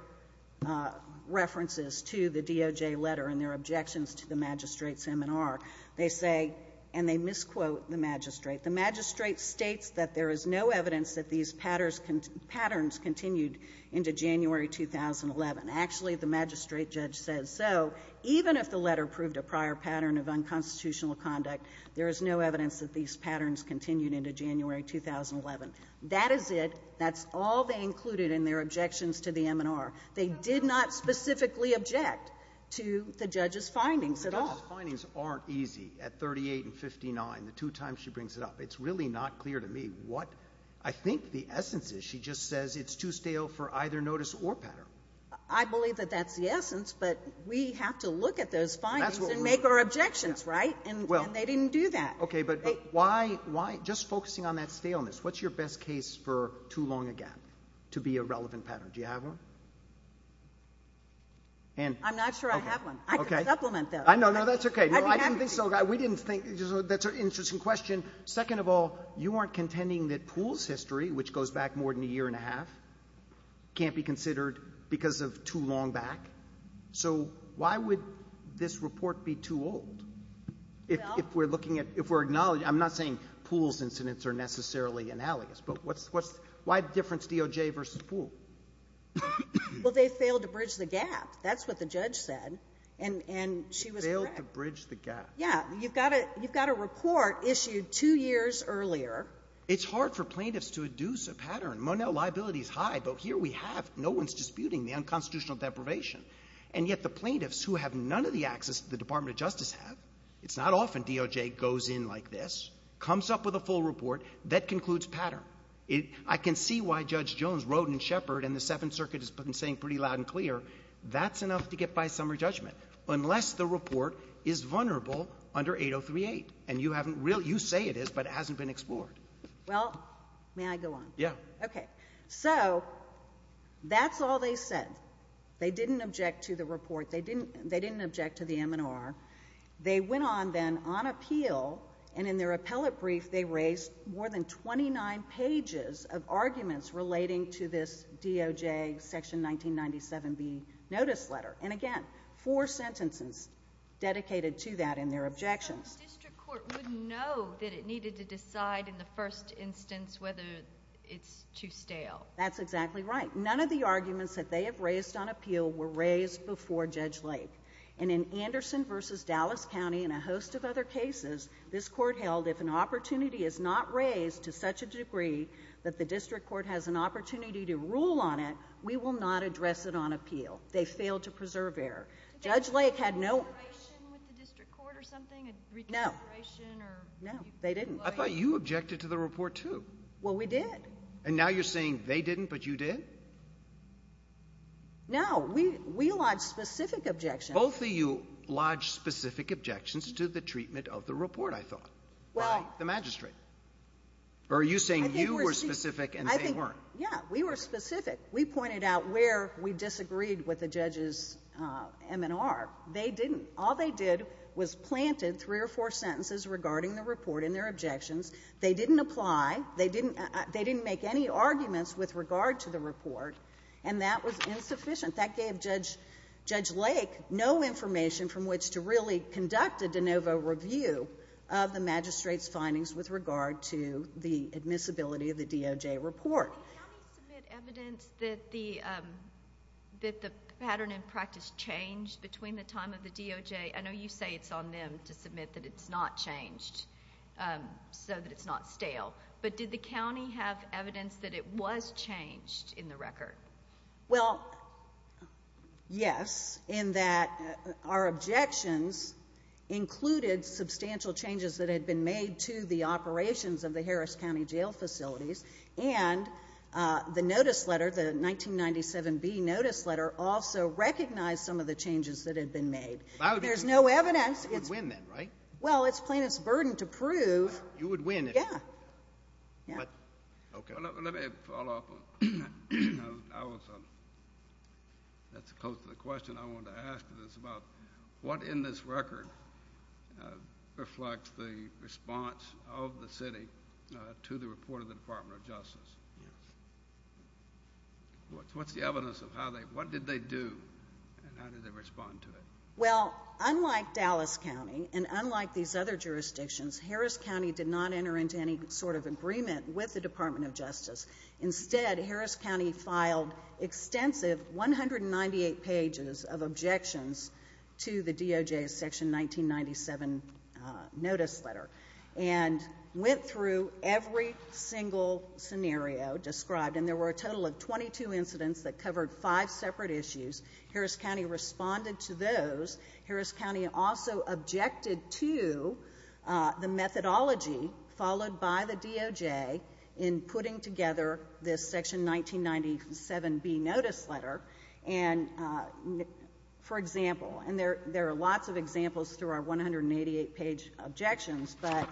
references to the DOJ letter and their objections to the magistrate's M&R. They say, and they misquote the magistrate, the magistrate states that there is no evidence that these patterns continued into January 2011. Actually, the magistrate judge says so. Even if the letter proved a prior pattern of unconstitutional conduct, there is no evidence that these patterns continued into January 2011. That is it. That's all they included in their objections to the M&R. They did not specifically object to the judge's findings at all. The judge's findings aren't easy. At 38 and 59, the two times she brings it up, it's really not clear to me what I think the essence is. She just says it's too stale for either notice or pattern. I believe that that's the essence, but we have to look at those findings and make our objections, right? And they didn't do that. Okay, but why, just focusing on that staleness, what's your best case for too long again to be a relevant pattern? Do you have one? I'm not sure I have one. I can supplement that. No, no, that's okay. I'd be happy to. We didn't think, that's an interesting question. Second of all, you aren't contending that Poole's history, which goes back more than a year and a half, can't be considered because of too long back. So why would this report be too old? If we're looking at, if we're acknowledging, I'm not saying Poole's incidents are necessarily analogous, but why the difference DOJ versus Poole? Well, they failed to bridge the gap. That's what the judge said, and she was correct. They failed to bridge the gap. Yeah. You've got a report issued two years earlier. It's hard for plaintiffs to induce a pattern. Monel, liability is high, but here we have, no one's disputing the unconstitutional deprivation. And yet the plaintiffs, who have none of the access that the Department of Justice have, it's not often DOJ goes in like this, comes up with a full report, that concludes pattern. I can see why Judge Jones wrote in Shepard, and the Seventh Circuit has been saying pretty loud and clear, that's enough to get by summary judgment, unless the report is vulnerable under 8038. And you say it is, but it hasn't been explored. Well, may I go on? Yeah. Okay. So, that's all they said. They didn't object to the report. They didn't object to the MNR. They went on then, on appeal, and in their appellate brief, they raised more than 29 pages of arguments relating to this DOJ section 1997B notice letter. And again, four sentences dedicated to that in their objections. So, the district court wouldn't know that it needed to decide in the first instance whether it's too stale. That's exactly right. None of the arguments that they have raised on appeal were raised before Judge Lake. And in Anderson v. Dallas County, and a host of other cases, this court held if an opportunity is not raised to such a degree that the district court has an opportunity to rule on it, we will not address it on appeal. They failed to preserve error. Judge Lake had no... Did they have a reconsideration with the district court or something? No. A reconsideration or... No. They didn't. I thought you objected to the report, too. Well, we did. And now you're saying they didn't, but you did? No. We lodged specific objections. Both of you lodged specific objections to the treatment of the report, I thought, by the magistrate. Well... Or are you saying you were specific and they weren't? Yeah. We were specific. We pointed out where we disagreed with the judges' M&R. They didn't. All they did was planted three or four sentences regarding the report in their objections. They didn't apply. They didn't make any arguments with regard to the report, and that was insufficient. That gave Judge Lake no information from which to really conduct a de novo review of the magistrate's findings with regard to the admissibility of the DOJ report. Did the county submit evidence that the pattern in practice changed between the time of the DOJ? I know you say it's on them to submit that it's not changed so that it's not stale. But did the county have evidence that it was changed in the record? Well, yes, in that our objections included substantial changes that had been made to the operations of the Harris County Jail facilities, and the notice letter, the 1997B notice letter, also recognized some of the changes that had been made. There's no evidence. You would win then, right? Well, it's plaintiff's burden to prove... You would win if... Yeah. Okay. Let me follow up on that. That's close to the question I wanted to ask is about what in this record reflects the response of the city to the report of the Department of Justice? Yes. What's the evidence of how they... what did they do, and how did they respond to it? Well, unlike Dallas County and unlike these other jurisdictions, Harris County did not enter into any sort of agreement with the Department of Justice. Instead, Harris County filed extensive 198 pages of objections to the DOJ's section 1997 notice letter and went through every single scenario described, and there were a total of 22 incidents that covered five separate issues. Harris County responded to those. Harris County also objected to the methodology followed by the DOJ in putting together this section 1997B notice letter. And, for example, and there are lots of examples through our 188 page objections, but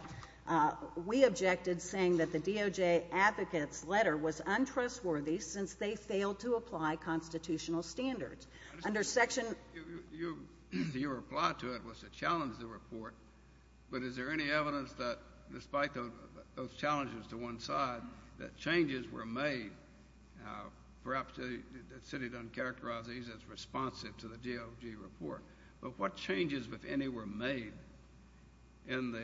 we objected saying that the DOJ advocate's letter was untrustworthy since they failed to apply constitutional standards. Under section... Your reply to it was to challenge the report, but is there any evidence that, despite those challenges to one side, that changes were made, perhaps the city doesn't characterize these as responsive to the DOJ report, but what changes, if any, were made in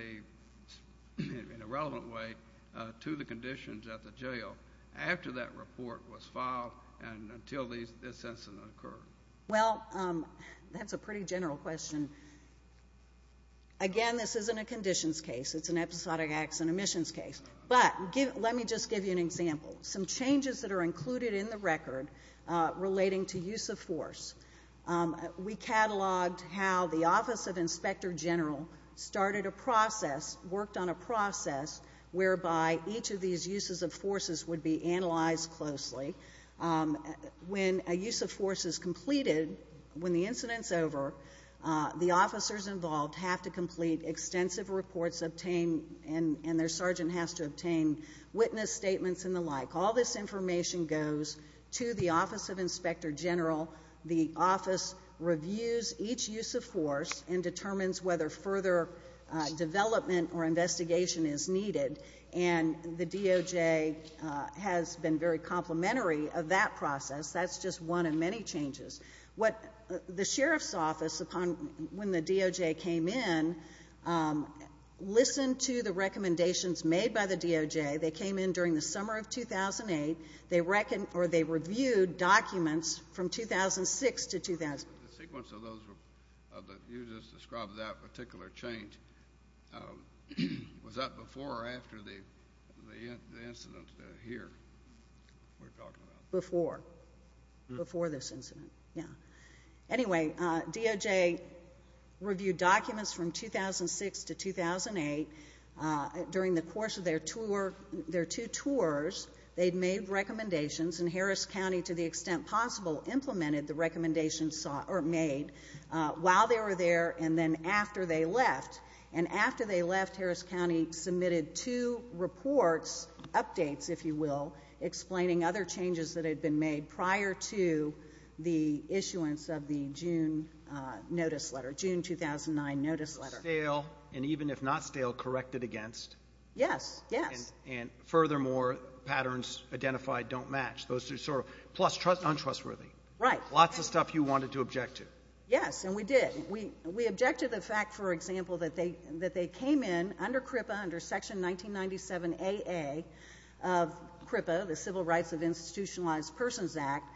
a relevant way to the conditions at the jail after that report was filed and until this incident occurred? Well, that's a pretty general question. Again, this isn't a conditions case. It's an episodic acts and omissions case. But let me just give you an example. Some changes that are included in the record relating to use of force. We cataloged how the Office of Inspector General started a process, worked on a process, whereby each of these uses of forces would be analyzed closely. When a use of force is completed, when the incident's over, the officers involved have to complete extensive reports obtained, and their sergeant has to obtain witness statements and the like. All this information goes to the Office of Inspector General. The office reviews each use of force and determines whether further development or investigation is needed, and the DOJ has been very complimentary of that process. That's just one of many changes. The sheriff's office, when the DOJ came in, listened to the recommendations made by the DOJ. They came in during the summer of 2008. They reviewed documents from 2006 to 2000. The sequence of those that you just described, that particular change, was that before or after the incident here we're talking about? Before. Before this incident. Yeah. Anyway, DOJ reviewed documents from 2006 to 2008. During the course of their two tours, they'd made recommendations, and Harris County, to the extent possible, implemented the recommendations made while they were there and then after they left. After they left, Harris County submitted two reports, updates, if you will, explaining other changes that had been made prior to the issuance of the June notice letter, June 2009 notice letter. Stale, and even if not stale, corrected against? Yes. Yes. Furthermore, patterns identified don't match. Plus, untrustworthy. Right. Lots of stuff you wanted to object to. Yes, and we did. We objected to the fact, for example, that they came in under CRIPA, under Section 1997 AA of CRIPA, the Civil Rights of Institutionalized Persons Act,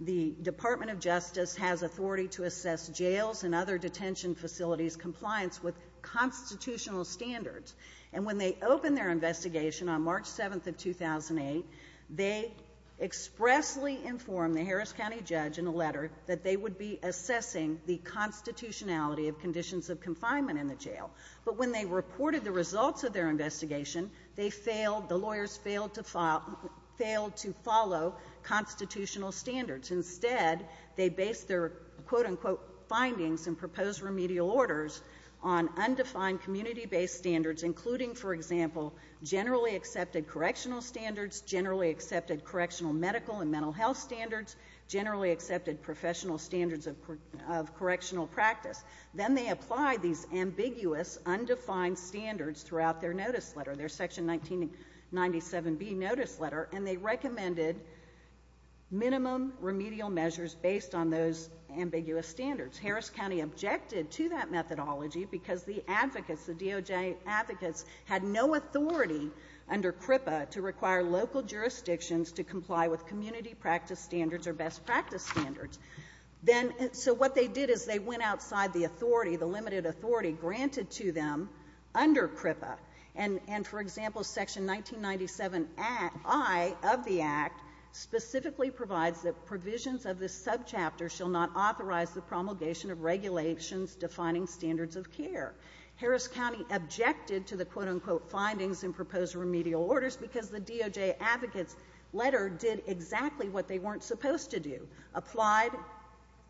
the Department of Justice has authority to assess jails and other detention facilities' compliance with constitutional standards. And when they opened their investigation on March 7th of 2008, they expressly informed the Harris County judge in a letter that they would be assessing the constitutionality of conditions of confinement in the jail. But when they reported the results of their investigation, they failed, the lawyers failed to follow constitutional standards. Instead, they based their quote-unquote findings and proposed remedial orders on undefined community-based standards, including, for example, generally accepted correctional standards, generally accepted correctional medical and mental health standards, generally accepted professional standards of correctional practice. Then they applied these ambiguous, undefined standards throughout their notice letter, their Section 1997B notice letter, and they recommended minimum remedial measures based on those ambiguous standards. Harris County objected to that methodology because the advocates, the DOJ advocates, had no authority under CRIPA to require local jurisdictions to comply with community practice standards or best practice standards. So what they did is they went outside the authority, the limited authority granted to them under CRIPA. And, for example, Section 1997I of the Act specifically provides that provisions of this legislation of regulations defining standards of care. Harris County objected to the quote-unquote findings and proposed remedial orders because the DOJ advocates' letter did exactly what they weren't supposed to do, applied. I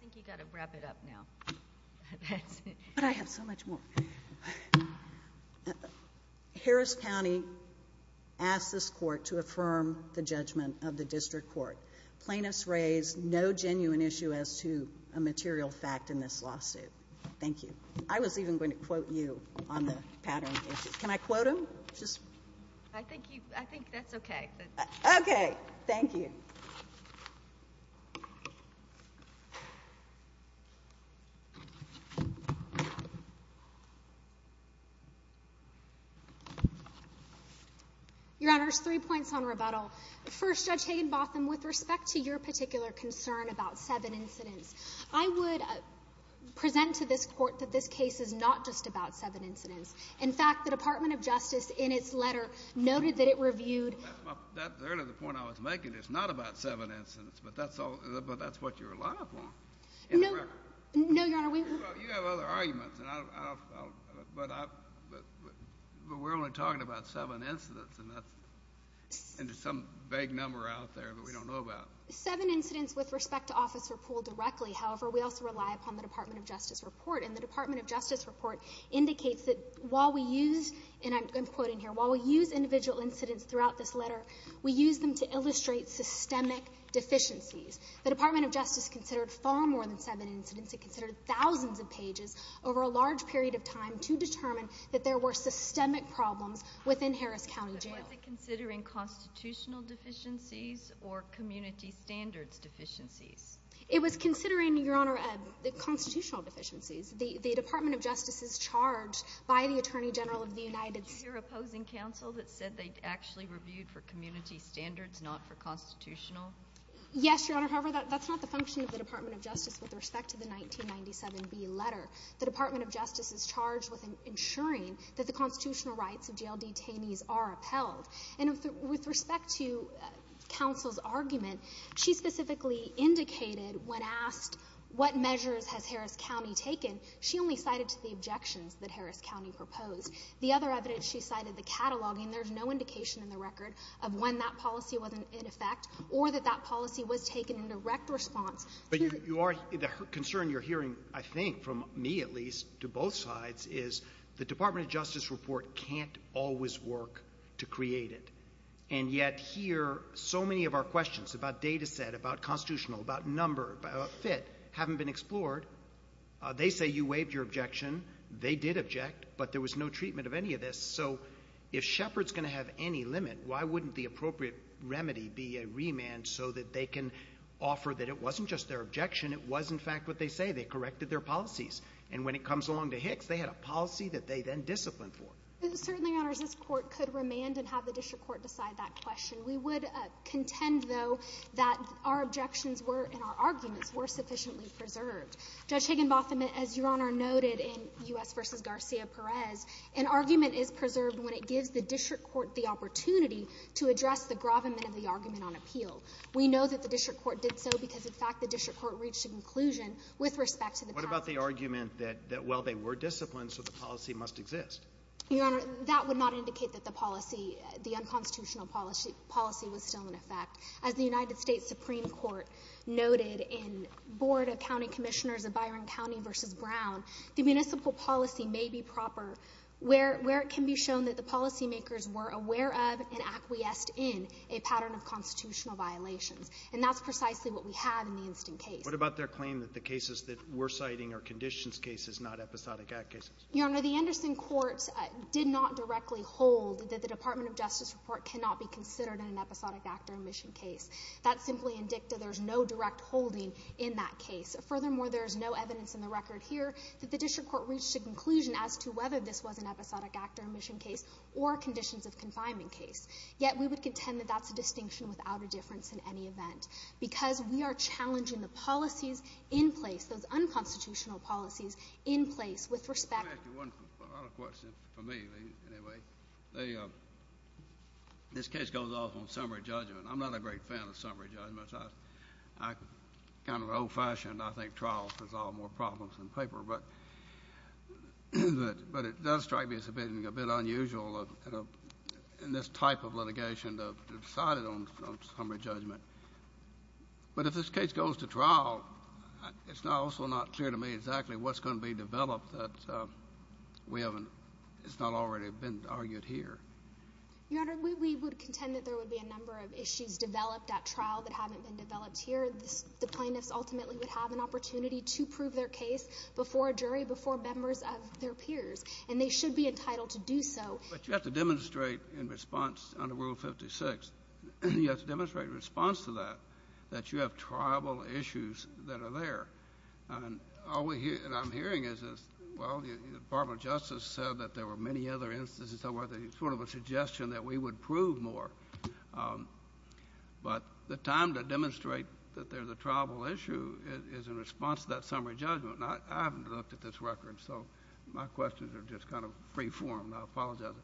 think you've got to wrap it up now. But I have so much more. Harris County asked this court to affirm the judgment of the district court. Plaintiffs raised no genuine issue as to a material fact in this lawsuit. Thank you. I was even going to quote you on the pattern. Can I quote him? I think that's okay. Okay. Thank you. Your Honors, three points on rebuttal. First, Judge Hagenbotham, with respect to your particular concern about seven incidents, I would present to this Court that this case is not just about seven incidents. In fact, the Department of Justice, in its letter, noted that it reviewed That's really the point I was making. It's not about seven incidents. But that's what you relied upon. No, Your Honor. You have other arguments. But we're only talking about seven incidents. And there's some vague number out there that we don't know about. Seven incidents with respect to Officer Poole directly. However, we also rely upon the Department of Justice report. And the Department of Justice report indicates that while we use, and I'm quoting here, while we use individual incidents throughout this letter, we use them to illustrate systemic deficiencies. The Department of Justice considered far more than seven incidents. It considered thousands of pages over a large period of time to determine that there were systemic problems within Harris County Jail. Was it considering constitutional deficiencies or community standards deficiencies? It was considering, Your Honor, constitutional deficiencies. The Department of Justice is charged by the Attorney General of the United States Did you hear opposing counsel that said they actually reviewed for community standards, not for constitutional? Yes, Your Honor. However, that's not the function of the Department of Justice with respect to the 1997B letter. The Department of Justice is charged with ensuring that the constitutional rights of jail detainees are upheld. And with respect to counsel's argument, she specifically indicated when asked what measures has Harris County taken, she only cited the objections that Harris County proposed. The other evidence she cited, the cataloging, there's no indication in the record of when that policy was in effect or that that policy was taken in direct response. But the concern you're hearing, I think, from me at least, to both sides, is the Department of Justice report can't always work to create it. And yet here, so many of our questions about data set, about constitutional, about number, about fit, haven't been explored. They say you waived your objection. They did object, but there was no treatment of any of this. So if Shepard's going to have any limit, why wouldn't the appropriate remedy be a remand so that they can offer that it wasn't just their objection. It was, in fact, what they say. They corrected their policies. And when it comes along to Hicks, they had a policy that they then disciplined for. Certainly, Your Honor, this court could remand and have the district court decide that question. We would contend, though, that our objections were, and our arguments were sufficiently preserved. Judge Higginbotham, as Your Honor noted in U.S. v. Garcia-Perez, an argument is preserved when it gives the district court the opportunity to address the gravamen of the argument on appeal. We know that the district court did so because, in fact, the district court reached a conclusion with respect to the past... What about the argument that, well, they were disciplined, so the policy must exist? Your Honor, that would not indicate that the policy, the unconstitutional policy, was still in effect. As the United States Supreme Court noted in Board of County Commissioners of Byron County v. Brown, the municipal policy may be proper where it can be shown that the policymakers were aware of and acquiesced in a pattern of constitutional violations. And that's precisely what we have in the instant case. What about their claim that the cases that we're citing are conditions cases, not episodic act cases? Your Honor, the Anderson courts did not directly hold that the Department of Justice report cannot be considered an episodic act or omission case. That simply indicted there's no direct holding in that case. Furthermore, there's no evidence in the record here that the district court reached a conclusion as to whether this was an episodic act or omission case or conditions of confinement case. Yet we would contend that that's a distinction without a difference in any event because we are challenging the policies in place, those unconstitutional policies in place, with respect... Let me ask you one other question, for me, anyway. They, um... This case goes off on summary judgment. I'm not a great fan of summary judgments. I... I... Kind of an old-fashioned, I think, trial to solve more problems than paper, but... But it does strike me as a bit unusual in this type of litigation to decide it on summary judgment. But if this case goes to trial, it's also not clear to me exactly what's going to be developed that we haven't... It's not already been argued here. Your Honor, we would contend that there would be a number of issues developed at trial that haven't been developed here. The plaintiffs ultimately would have an opportunity to prove their case before a jury, before members of their peers, and they should be entitled to do so. But you have to demonstrate in response under Rule 56, you have to demonstrate in response to that that you have tribal issues that are there. And all we hear, and I'm hearing, is, well, the Department of Justice said that there were many other instances that were sort of a suggestion that we would prove more. Um... But the time to demonstrate that there's a tribal issue is in response to that summary judgment. I haven't looked at this record, so my questions are just kind of free-form. I apologize.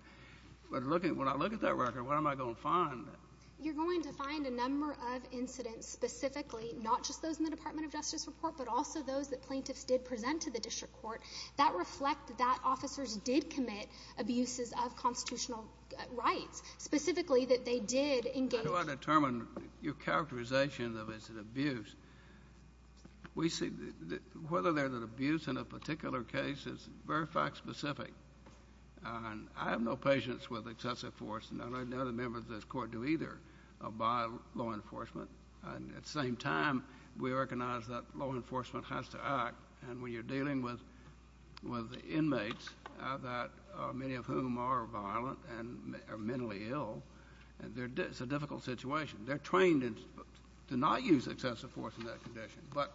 But when I look at that record, what am I going to find? You're going to find a number of incidents specifically, not just those in the Department of Justice report, but also those that plaintiffs did present to the district court that reflect that officers did commit abuses specifically that they did engage... How do I determine your characterization of it as an abuse? We see... Whether they're an abuse in a particular case is very fact-specific. And I have no patience with excessive force. None of the members of this court do either by law enforcement. And at the same time, we recognize that law enforcement has to act. And when you're dealing with inmates, many of whom are violent and are mentally ill, it's a difficult situation. They're trained to not use excessive force in that condition. But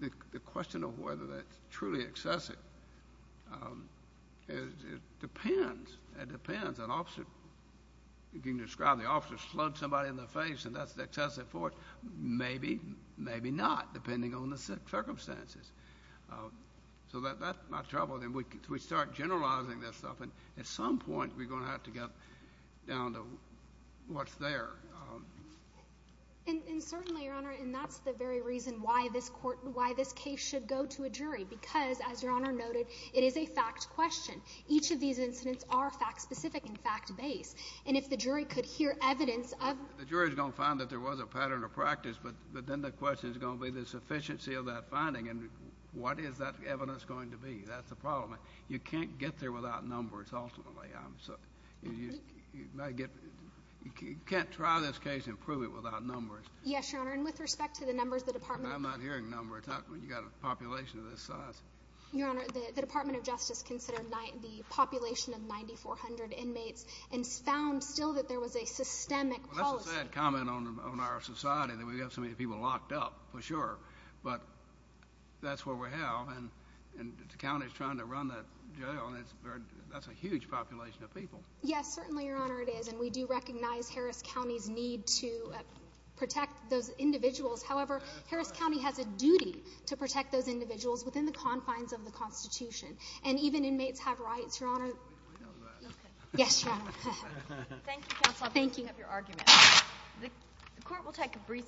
the question of whether that's truly excessive... It depends. It depends. An officer... You can describe the officer slug somebody in the face, and that's excessive force. Maybe, maybe not, depending on the circumstances. So that's my trouble. Then we start generalizing this stuff, and at some point, we're going to have to get down to what's there. And certainly, Your Honor, and that's the very reason why this case should go to a jury, because, as Your Honor noted, it is a fact question. Each of these incidents are fact-specific and fact-based. And if the jury could hear evidence of... The jury's going to find that there was a pattern of practice, but then the question is going to be the sufficiency of that finding, and what is that evidence going to be? That's the problem. You can't get there without numbers, ultimately. You might get... You can't try this case and prove it without numbers. Yes, Your Honor, and with respect to the numbers, the Department of... I'm not hearing numbers. You've got a population of this size. Your Honor, the Department of Justice considered the population of 9,400 inmates and found still that there was a systemic policy. Well, that's a sad comment on our society that we have so many people locked up, for sure, but that's what we have, and the county's trying to run that jail, and that's a huge population of people. Yes, certainly, Your Honor, it is, and we do recognize Harris County's need to protect those individuals. However, Harris County has a duty to protect those individuals within the confines of the Constitution, and even inmates have rights, Your Honor. We know that. Yes, Your Honor. Thank you, Counsel. Thank you. Thank you for your argument. The court will take a brief...